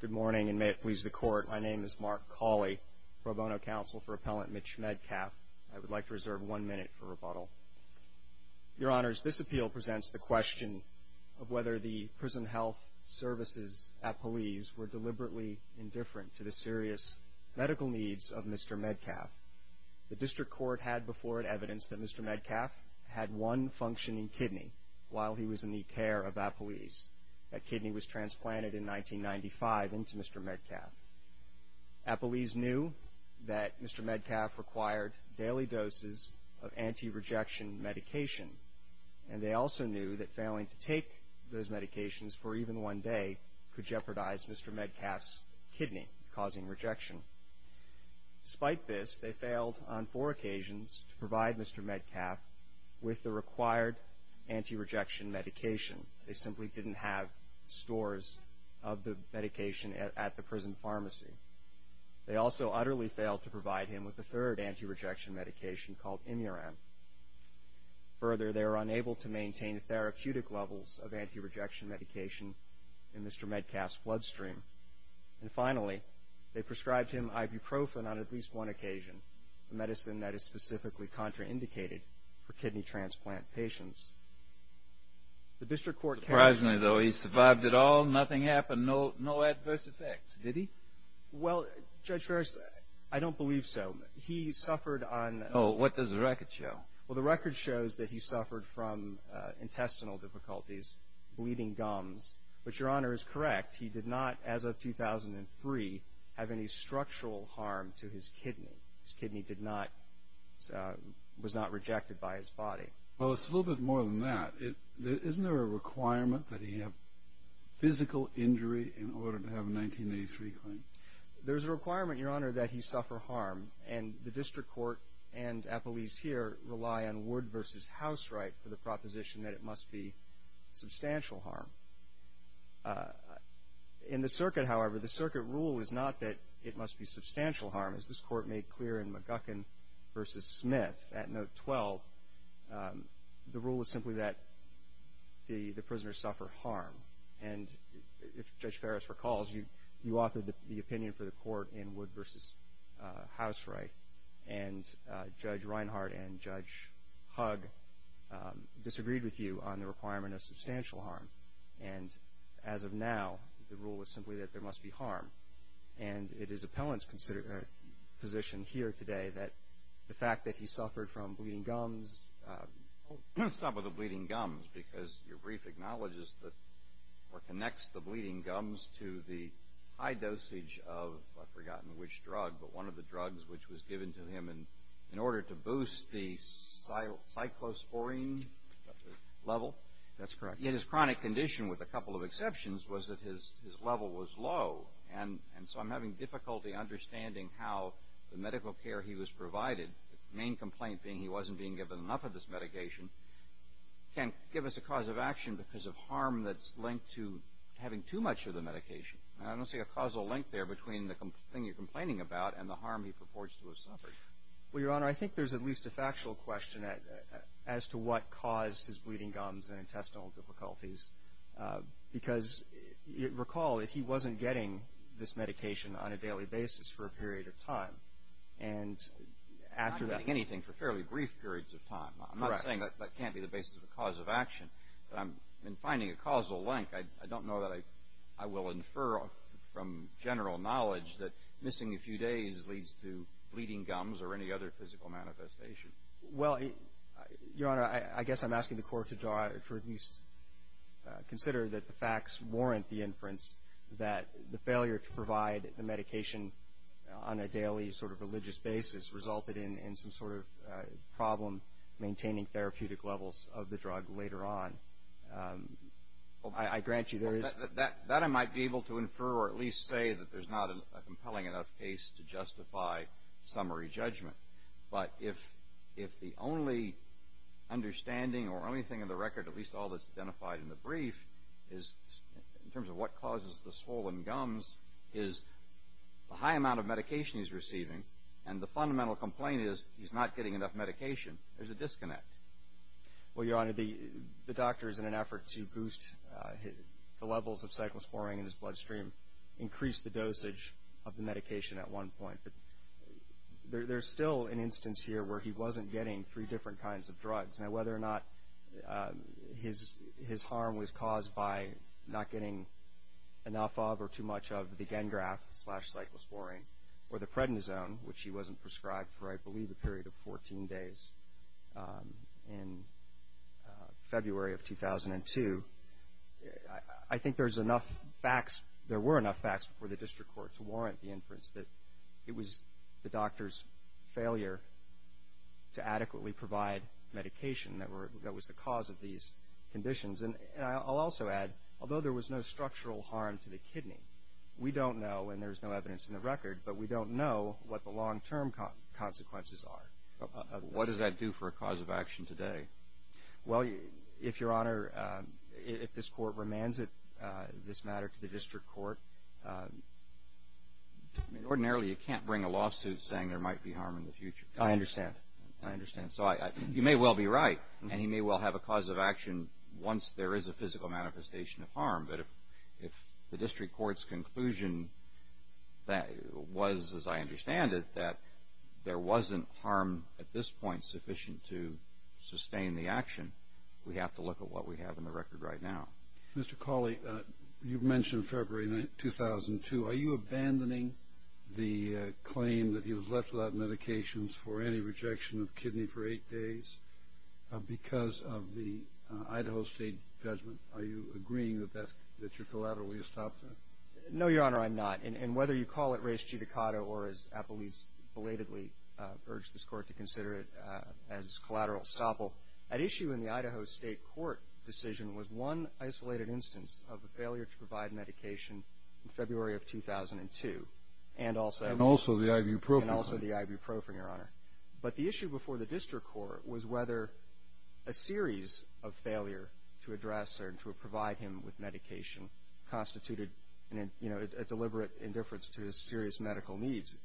Good morning, and may it please the Court, my name is Mark Cauley, pro bono counsel for Appellant Mitch Medcalf. I would like to reserve one minute for rebuttal. Your Honors, this appeal presents the question of whether the Prison Health Service's appellees were deliberately indifferent to the serious medical needs of Mr. Medcalf. The District Court had before it evidence that Mr. Medcalf had one functioning kidney while he was in kidney care of appellees. That kidney was transplanted in 1995 into Mr. Medcalf. Appellees knew that Mr. Medcalf required daily doses of anti-rejection medication, and they also knew that failing to take those medications for even one day could jeopardize Mr. Medcalf's kidney causing rejection. Despite this, they failed on four occasions to provide Mr. Medcalf with the required anti-rejection medication. They simply didn't have stores of the medication at the prison pharmacy. They also utterly failed to provide him with a third anti-rejection medication called Imuran. Further, they were unable to maintain therapeutic levels of anti-rejection medication in Mr. Medcalf's bloodstream. And finally, they prescribed him ibuprofen on for kidney transplant patients. The District Court carried on. Surprisingly, though, he survived it all? Nothing happened? No adverse effects? Did he? Well, Judge Ferris, I don't believe so. He suffered on... Oh, what does the record show? Well, the record shows that he suffered from intestinal difficulties, bleeding gums. But Your Honor is correct. He did not, as of 2003, have any structural harm to his kidney. His kidney was just affected by his body. Well, it's a little bit more than that. Isn't there a requirement that he have physical injury in order to have a 1983 claim? There's a requirement, Your Honor, that he suffer harm. And the District Court and Appellees here rely on Wood v. Houseright for the proposition that it must be substantial harm. In the circuit, however, the circuit rule is not that it must be substantial harm. As this Court made clear in McGuckin v. Smith at Note 12, the rule is simply that the prisoners suffer harm. And if Judge Ferris recalls, you authored the opinion for the Court in Wood v. Houseright, and Judge Reinhardt and Judge Hug disagreed with you on the requirement of substantial harm. And as of now, the rule is simply that there must be harm. And it is Appellant's position here today that the fact that he suffered from bleeding gums. I'll stop with the bleeding gums, because your brief acknowledges that or connects the bleeding gums to the high dosage of, I've forgotten which drug, but one of the drugs which was given to him in order to boost the cyclosporine level. That's correct. Yet his chronic condition, with a couple of exceptions, was that his level was low. And so, understanding how the medical care he was provided, the main complaint being he wasn't being given enough of this medication, can't give us a cause of action because of harm that's linked to having too much of the medication. And I don't see a causal link there between the thing you're complaining about and the harm he purports to have suffered. Well, Your Honor, I think there's at least a factual question as to what caused his bleeding gums and intestinal difficulties. Because, recall, if he wasn't getting this medication on a daily basis for a period of time, and after that – He wasn't getting anything for fairly brief periods of time. Correct. I'm not saying that can't be the basis of a cause of action. But I'm – in finding a causal link, I don't know that I will infer from general knowledge that missing a few days leads to bleeding gums or any other physical manifestation. Well, Your Honor, I guess I'm asking the Court to draw – or at least consider that the facts warrant the inference that the failure to provide the medication on a daily sort of religious basis resulted in some sort of problem maintaining therapeutic levels of the drug later on. I grant you there is – Well, that I might be able to infer or at least say that there's not a compelling enough case to justify summary judgment. But if the only understanding or only thing in the brief is – in terms of what causes the swollen gums is the high amount of medication he's receiving. And the fundamental complaint is he's not getting enough medication. There's a disconnect. Well, Your Honor, the doctor is in an effort to boost the levels of cyclosporine in his bloodstream, increase the dosage of the medication at one point. But there's still an instance here where he wasn't getting three different kinds of drugs. Now, whether or not his harm was caused by not getting enough of or too much of the Gengraf slash cyclosporine or the prednisone, which he wasn't prescribed for, I believe, a period of 14 days in February of 2002, I think there's enough facts – there were enough facts before the District Court to warrant the inference that it was the doctor's failure to adequately provide medication that were – that was the cause of these conditions. And I'll also add, although there was no structural harm to the kidney, we don't know – and there's no evidence in the record – but we don't know what the long-term consequences are. What does that do for a cause of action today? Well, Your Honor, if this Court remands this matter to the District Court – I mean, ordinarily you can't bring a lawsuit saying there might be harm in the future. I understand. I understand. So you may well be right, and he may well have a cause of action once there is a physical manifestation of harm. But if the District Court's conclusion was, as we have to look at what we have in the record right now. Mr. Cawley, you mentioned February 2002. Are you abandoning the claim that he was left without medications for any rejection of kidney for eight days because of the Idaho State judgment? Are you agreeing that that's – that you're collaterally estoppel? No, Your Honor, I'm not. And whether you call it res judicata or, as Appleby's belatedly collateral estoppel, at issue in the Idaho State court decision was one isolated instance of a failure to provide medication in February of 2002. And also the ibuprofen, Your Honor. But the issue before the District Court was whether a series of failure to address or to provide him with medication constituted a deliberate indifference to his serious medical needs.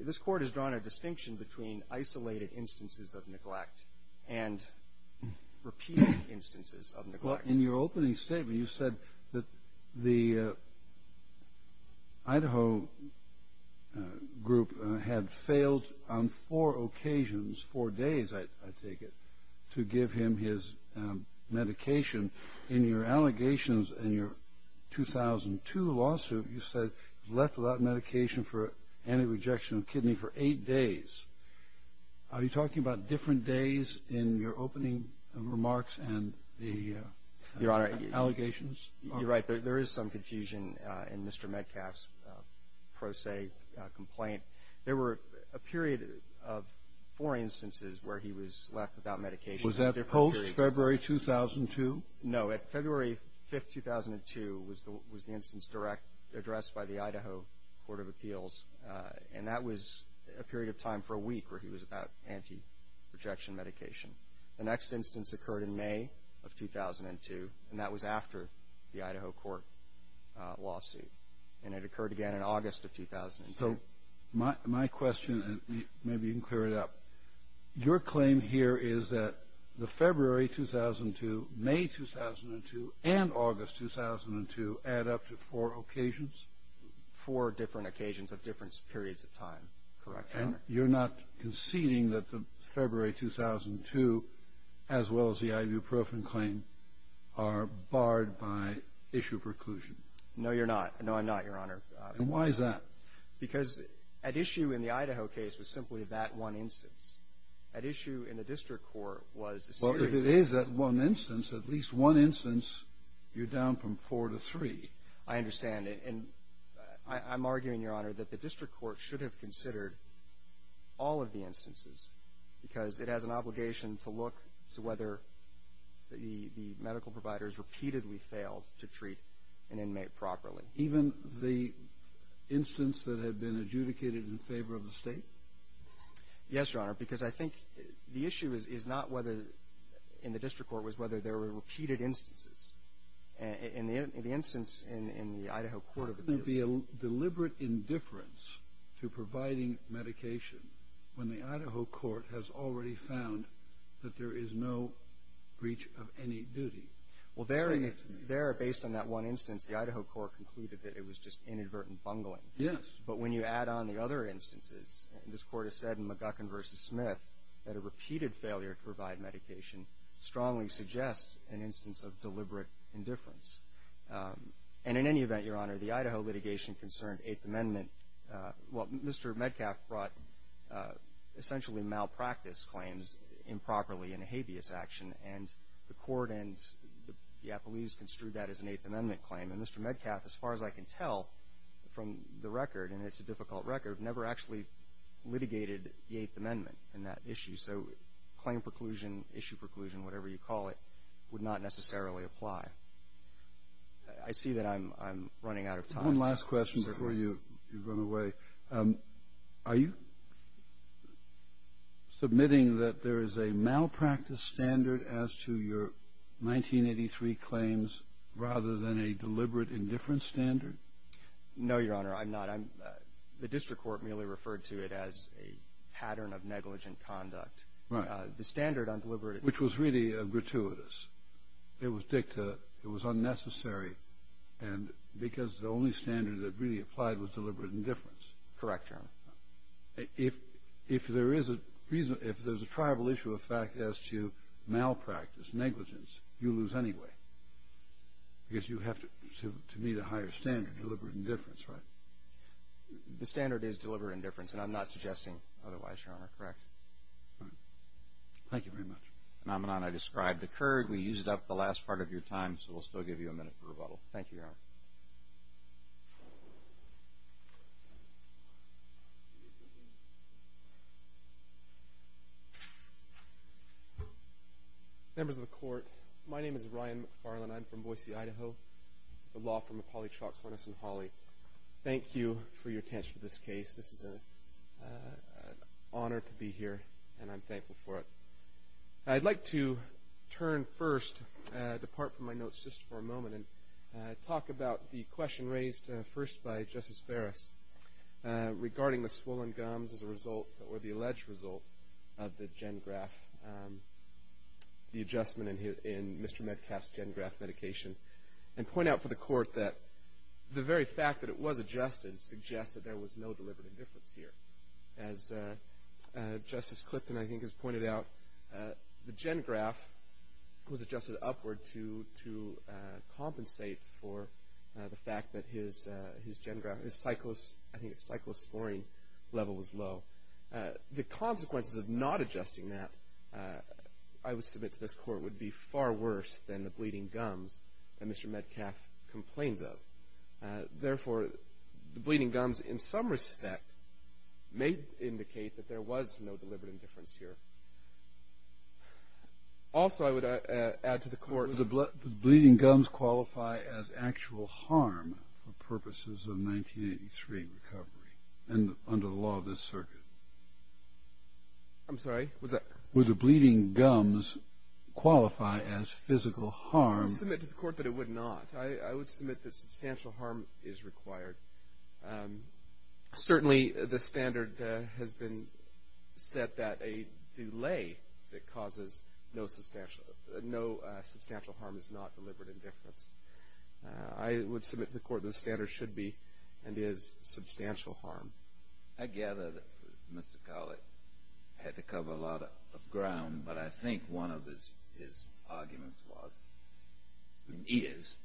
This Court has drawn a distinction between isolated instances of neglect and repeated instances of neglect. Well, in your opening statement, you said that the Idaho group had failed on four occasions, four days, I take it, to give him his medication. In your allegations in your 2002 lawsuit, you said he was left without medication for any rejection of kidney for eight days. Are you talking about different days in your opening remarks and the allegations? Your Honor, you're right. There is some confusion in Mr. Metcalfe's pro se complaint. There were a period of four instances where he was left without medication. Was that post-February 2002? No. February 5, 2002 was the instance addressed by the Idaho Court of Appeals. And that was a period of time for a week where he was without anti-rejection medication. The next instance occurred in May of 2002, and that was after the Idaho court lawsuit. And it occurred again in August of 2002. So my question, and maybe you can clear it up, your claim here is that the February 2002, May 2002, and August 2002 add up to four occasions? Four different occasions of different periods of time, correct, Your Honor. And you're not conceding that the February 2002, as well as the ibuprofen claim, are barred by issue preclusion? No, you're not. No, I'm not, Your Honor. And why is that? Because at issue in the Idaho case was simply that one instance. At issue in the district court was a series of instances. Well, if it is that one instance, at least one instance, you're down from four to three. I understand. And I'm arguing, Your Honor, that the district court should have considered all of the instances, because it has an obligation to look to whether the medical providers repeatedly failed to treat an inmate properly. Even the instance that had been adjudicated in favor of the State? Yes, Your Honor, because I think the issue is not whether in the district court was whether there were repeated instances. In the instance in the Idaho court of appeal — Wouldn't there be a deliberate indifference to providing medication when the Idaho court has already found that there is no breach of any duty? Well, there, based on that one instance, the Idaho court concluded that it was just inadvertent bungling. Yes. But when you add on the other instances, and this Court has said in McGuckin v. Smith that a repeated failure to provide medication strongly suggests an instance of deliberate indifference. And in any event, Your Honor, the Idaho litigation concerned Eighth Amendment — well, Mr. Medcalf brought essentially malpractice claims improperly in a habeas action, and the court and the appellees construed that as an Eighth Amendment claim. And Mr. Medcalf, as far as I can tell from the record, and it's a difficult record, never actually litigated the Eighth Amendment in that issue. So claim preclusion, issue preclusion, whatever you call it, would not necessarily apply. I see that I'm running out of time. One last question before you run away. Are you submitting that there is a malpractice standard as to your 1983 claims rather than a deliberate indifference standard? No, Your Honor, I'm not. I'm — the district court merely referred to it as a pattern of negligent conduct. Right. The standard on deliberate — Which was really gratuitous. It was dicta. It was unnecessary, and — because the only standard that really applied was deliberate indifference. Correct, Your Honor. If there is a reason — if there's a tribal issue of fact as to malpractice, negligence, you lose anyway, because you have to meet a higher standard, deliberate indifference, right? The standard is deliberate indifference, and I'm not suggesting otherwise, Your Honor. Correct. All right. Thank you very much. The phenomenon I described occurred. We used up the last part of your time, so we'll still give you a minute for rebuttal. Thank you, Your Honor. Members of the Court, my name is Ryan McFarlane. I'm from Boise, Idaho, with a law firm of Hawley Shocks Harness & Hawley. Thank you for your attention to this case. This is an honor to be here, and I'm thankful for it. I'd like to turn first, depart from my notes just for a moment, and talk about the question raised first by Justice Ferris regarding the swollen gums as a result, or the alleged result, of the GenGraf, the adjustment in Mr. Medcalf's GenGraf medication, and point out for the Court that the very fact that it was adjusted suggests that there was no deliberate indifference here. As Justice Clipton, I think, has pointed out, the GenGraf was adjusted upward to compensate for the fact that his GenGraf, his cyclosporine level was low. The consequences of not adjusting that, I would submit to this Court, would be far worse than the bleeding gums that Mr. Medcalf complains of. Therefore, the bleeding gums, in some respect, may indicate that there was no deliberate indifference here. Also, I would add to the Court Would the bleeding gums qualify as actual harm for purposes of 1983 recovery under the law of this circuit? I'm sorry, was that? Would the bleeding gums qualify as physical harm? I would submit to the Court that it would not. I would submit that substantial harm is required. Certainly, the standard has been set that a delay that causes no substantial harm is not deliberate indifference. I would submit to the Court that the standard should be and is substantial harm. I gather that Mr. Collett had to cover a lot of ground, but I think one of his arguments was, is,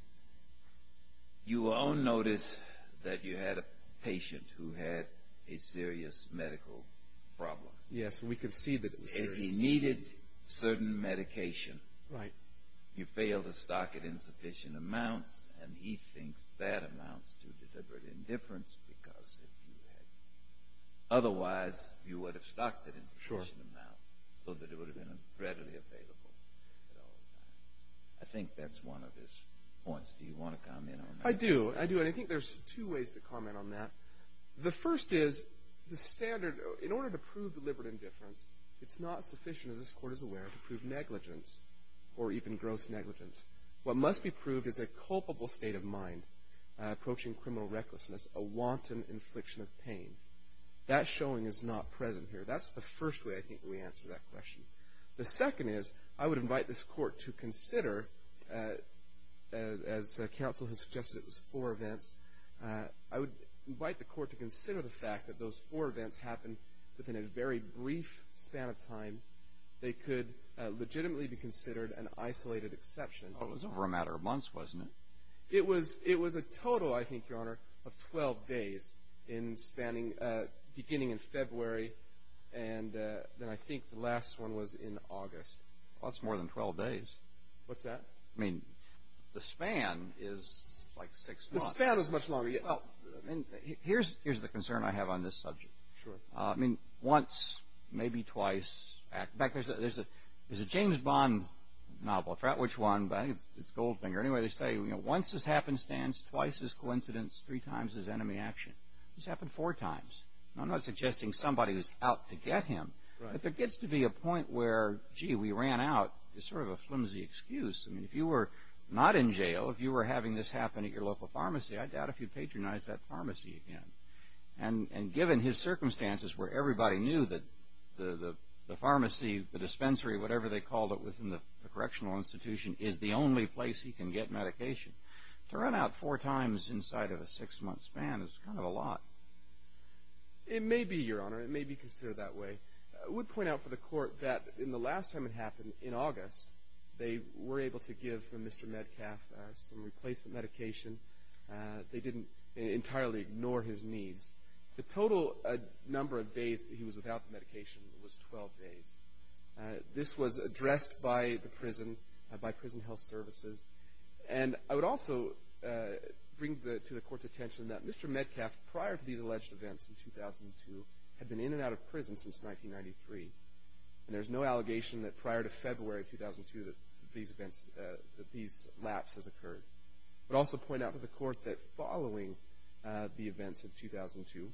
you all noticed that you had a patient who had a serious medical problem. Yes, we could see that it was serious. And he needed certain medication. Right. You failed to stock it in sufficient amounts, and he thinks that amounts to deliberate indifference, because if you had otherwise, you would have stocked it in sufficient amounts so that it would have been readily available at all times. I think that's one of his points. Do you want to comment on that? I do. I do. And I think there's two ways to comment on that. The first is, the standard in order to prove deliberate indifference, it's not sufficient, as this Court is aware, to prove negligence, or even gross negligence. What must be proved is a culpable state of mind, approaching criminal recklessness, a wanton infliction of pain. That showing is not present here. That's the first way I think we answer that question. The second is, I would invite this Court to consider, as counsel has suggested it was four events, I would invite the Court to consider the fact that those four events happened within a very brief span of time. They could legitimately be considered an isolated exception. Well, it was over a matter of months, wasn't it? It was a total, I think, Your Honor, of 12 days in spanning beginning in February, and then I think the last one was in August. Well, that's more than 12 days. What's that? I mean, the span is like six months. The span is much longer. Here's the concern I have on this subject. Sure. I mean, once, maybe twice. In fact, there's a James Bond novel, I forgot which one, but I think it's Goldfinger. Anyway, they say, you know, once is happenstance, twice is coincidence, three times is enemy action. This happened four times. I'm not suggesting somebody is out to get him. Right. But there gets to be a point where, gee, we ran out. It's sort of a flimsy excuse. I mean, if you were not in jail, if you were having this happen at your local pharmacy, I doubt if you'd patronize that pharmacy again. And given his circumstances where everybody knew that the pharmacy, the dispensary, whatever they called it within the correctional institution, is the only place he can get medication, to run out four times inside of a six-month span is kind of a lot. It may be, Your Honor. It may be considered that way. I would point out for the Court that in the last time it happened, in August, they were able to give Mr. Medcalf some replacement medication. They didn't entirely ignore his needs. The total number of days that he was without the medication was 12 days. This was addressed by the prison, by prison health services. And I would also bring to the Court's attention that Mr. Medcalf, prior to these alleged events in 2002, had been in and out of prison since 1993. And there's no allegation that prior to February of 2002 that these events, that these lapses occurred. I would also point out to the Court that following the events in 2002,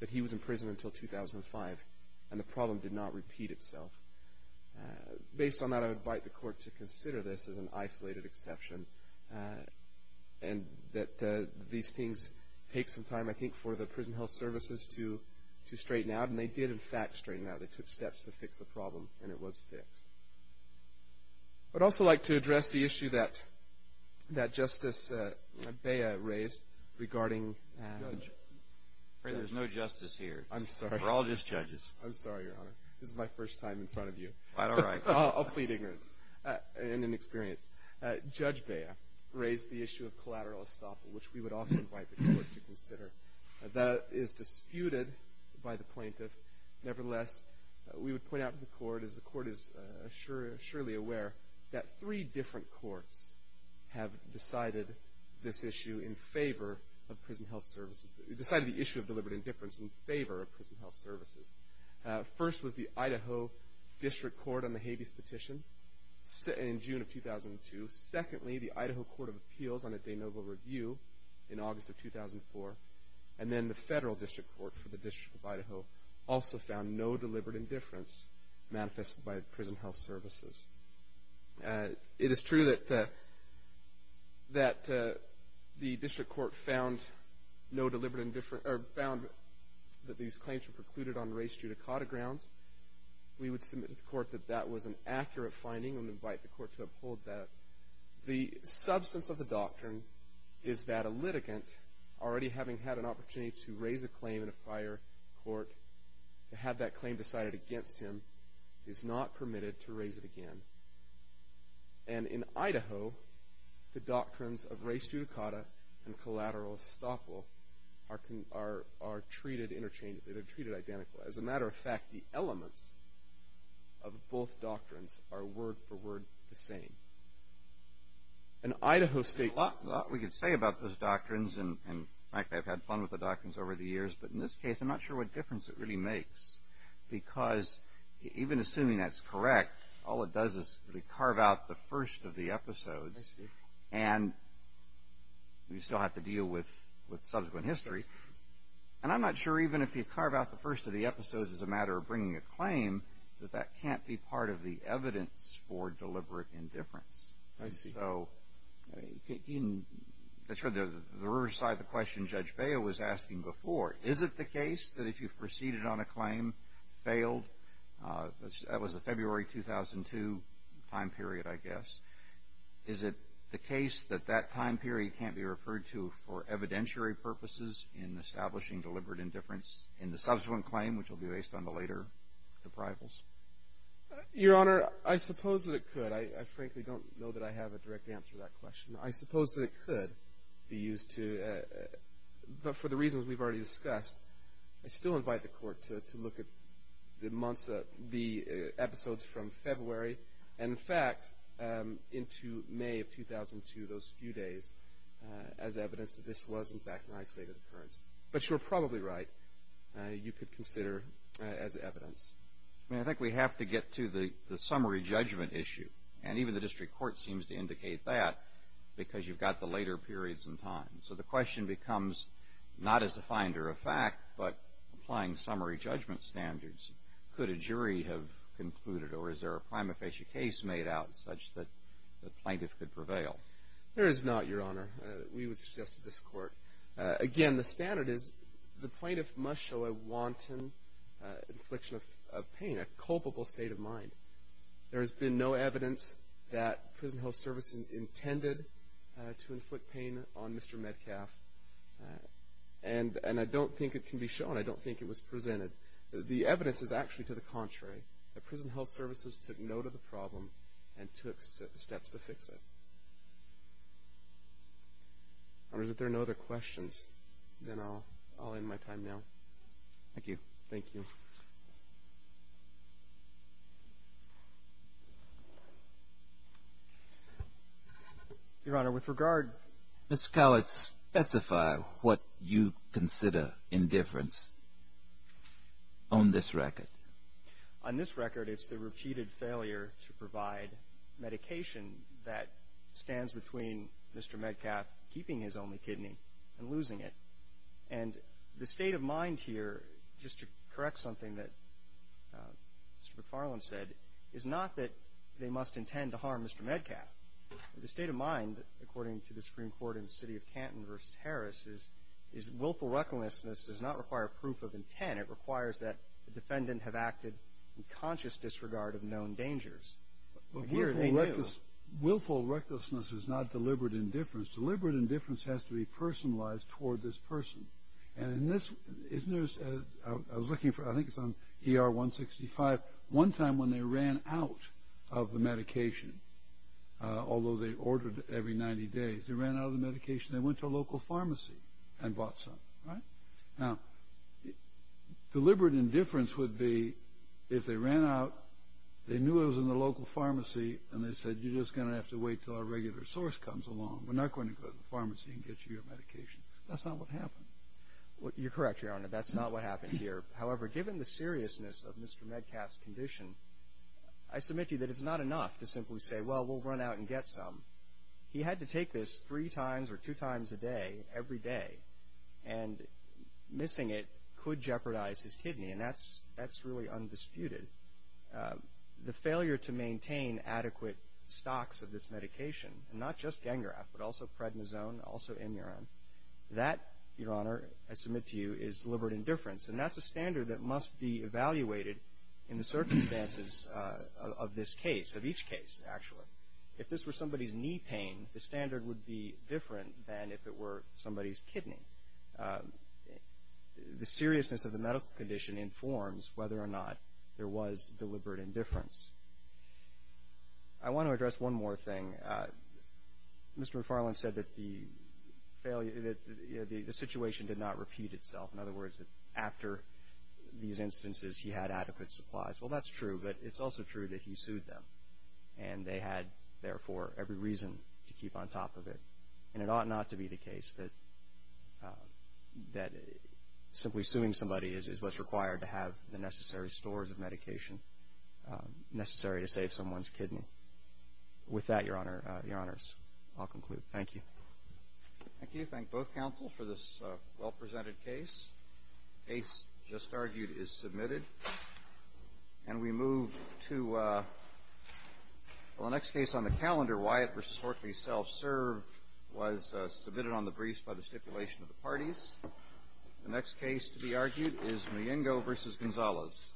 that he was in prison until 2005. And the problem did not repeat itself. Based on that, I would invite the Court to consider this as an isolated exception. And that these things take some time, I think, for the prison health services to straighten out. And they did, in fact, straighten out. They took steps to fix the problem. And it was fixed. I would also like to address the issue that Justice Bea raised regarding... Judge. There's no justice here. I'm sorry. We're all just judges. I'm sorry, Your Honor. This is my first time in front of you. All right. I'll plead ignorance and inexperience. Judge Bea raised the issue of collateral estoppel, which we would also invite the Court to consider. That is disputed by the plaintiff. Nevertheless, we would point out to the Court, as the Court is surely aware, that three different courts have decided this issue in favor of prison health services. Decided the issue of deliberate indifference in favor of prison health services. First was the Idaho District Court on the habeas petition in June of 2002. Secondly, the Idaho Court of Appeals on a de novo review in August of 2004. And then the Federal District Court for the District of Idaho also found no deliberate indifference manifested by prison health services. It is true that the District Court found no deliberate indifference or found that these claims were precluded on race judicata grounds. We would submit to the Court that that was an accurate finding and invite the Court to uphold that. The substance of the doctrine is that a litigant, already having had an opportunity to raise a claim in a prior court, to have that claim decided against him, is not permitted to raise it again. And in Idaho, the doctrines of race judicata and collateral estoppel are treated interchangeably. They're treated identically. As a matter of fact, the elements of both doctrines are word for word the same. In Idaho State... There's a lot we could say about those doctrines and the fact that I've had fun with the doctrines over the years, but in this case, I'm not sure what difference it really makes. Because even assuming that's correct, all it does is really carve out the first of the episodes. And we still have to deal with subsequent history. And I'm not sure even if you carve out the first of the episodes as a matter of bringing a claim, that that can't be part of the evidence for deliberate indifference. I see. That's right. The reverse side of the question Judge Baio was asking before, is it the case that if you've proceeded on a claim, failed, that was the February 2002 time period, I guess, is it the case that that time period can't be referred to for evidentiary purposes in establishing deliberate indifference in the subsequent claim, which will be based on the later deprivals? Your Honor, I suppose that it could. I frankly don't know that I have a direct answer to that question. I suppose that it could be used to, but for the reasons we've already discussed, I still invite the Court to look at the episodes from February and, in fact, into May of 2002, those few days, as evidence that this was, in fact, an isolated occurrence. But you're probably right. You could consider as evidence. I mean, I think we have to get to the summary judgment issue, and even the district court seems to indicate that because you've got the later periods in time. So the question becomes, not as a finder of fact, but applying summary judgment standards, could a jury have concluded or is there a prima facie case made out such that the plaintiff could prevail? There is not, Your Honor. We would suggest to this Court. Again, the standard is the plaintiff must show a wanton infliction of pain, a culpable state of mind. There has been no evidence that prison health services intended to inflict pain on Mr. Metcalf, and I don't think it can be shown. I don't think it was presented. The evidence is actually to the contrary, that prison health services took note of the problem and took steps to fix it. If there are no other questions, then I'll end my time now. Thank you. Thank you. Your Honor, with regard. Ms. Coward, specify what you consider indifference on this record. On this record, it's the repeated failure to provide medication that stands between Mr. Metcalf keeping his only kidney and losing it. And the state of mind here, just to correct something that Mr. McFarland said, is not that they must intend to harm Mr. Metcalf. The state of mind, according to the Supreme Court in the City of Canton v. Harris, requires that the defendant have acted in conscious disregard of known dangers. Willful recklessness is not deliberate indifference. Deliberate indifference has to be personalized toward this person. And in this, isn't there, I was looking for, I think it's on ER 165, one time when they ran out of the medication, although they ordered it every 90 days, they ran out of the medication, they went to a local pharmacy and bought some. Right? Now, deliberate indifference would be if they ran out, they knew it was in the local pharmacy, and they said, you're just going to have to wait until our regular source comes along. We're not going to go to the pharmacy and get you your medication. That's not what happened. You're correct, Your Honor. That's not what happened here. However, given the seriousness of Mr. Metcalf's condition, I submit to you that it's not enough to simply say, well, we'll run out and get some. He had to take this three times or two times a day, every day. And missing it could jeopardize his kidney. And that's really undisputed. The failure to maintain adequate stocks of this medication, and not just Gengraf but also prednisone, also imurin, that, Your Honor, I submit to you is deliberate indifference. And that's a standard that must be evaluated in the circumstances of this case, of each case, actually. If this were somebody's knee pain, the standard would be different than if it were somebody's kidney. The seriousness of the medical condition informs whether or not there was deliberate indifference. I want to address one more thing. Mr. McFarland said that the situation did not repeat itself. In other words, after these instances, he had adequate supplies. Well, that's true, but it's also true that he sued them. And they had, therefore, every reason to keep on top of it. And it ought not to be the case that simply suing somebody is what's required to have the necessary stores of medication necessary to save someone's kidney. With that, Your Honors, I'll conclude. Thank you. Thank you. Thank both counsels for this well-presented case. The case just argued is submitted. And we move to the next case on the calendar. Wyatt v. Hortley, self-served, was submitted on the briefs by the stipulation of the parties. The next case to be argued is Miengo v. Gonzalez.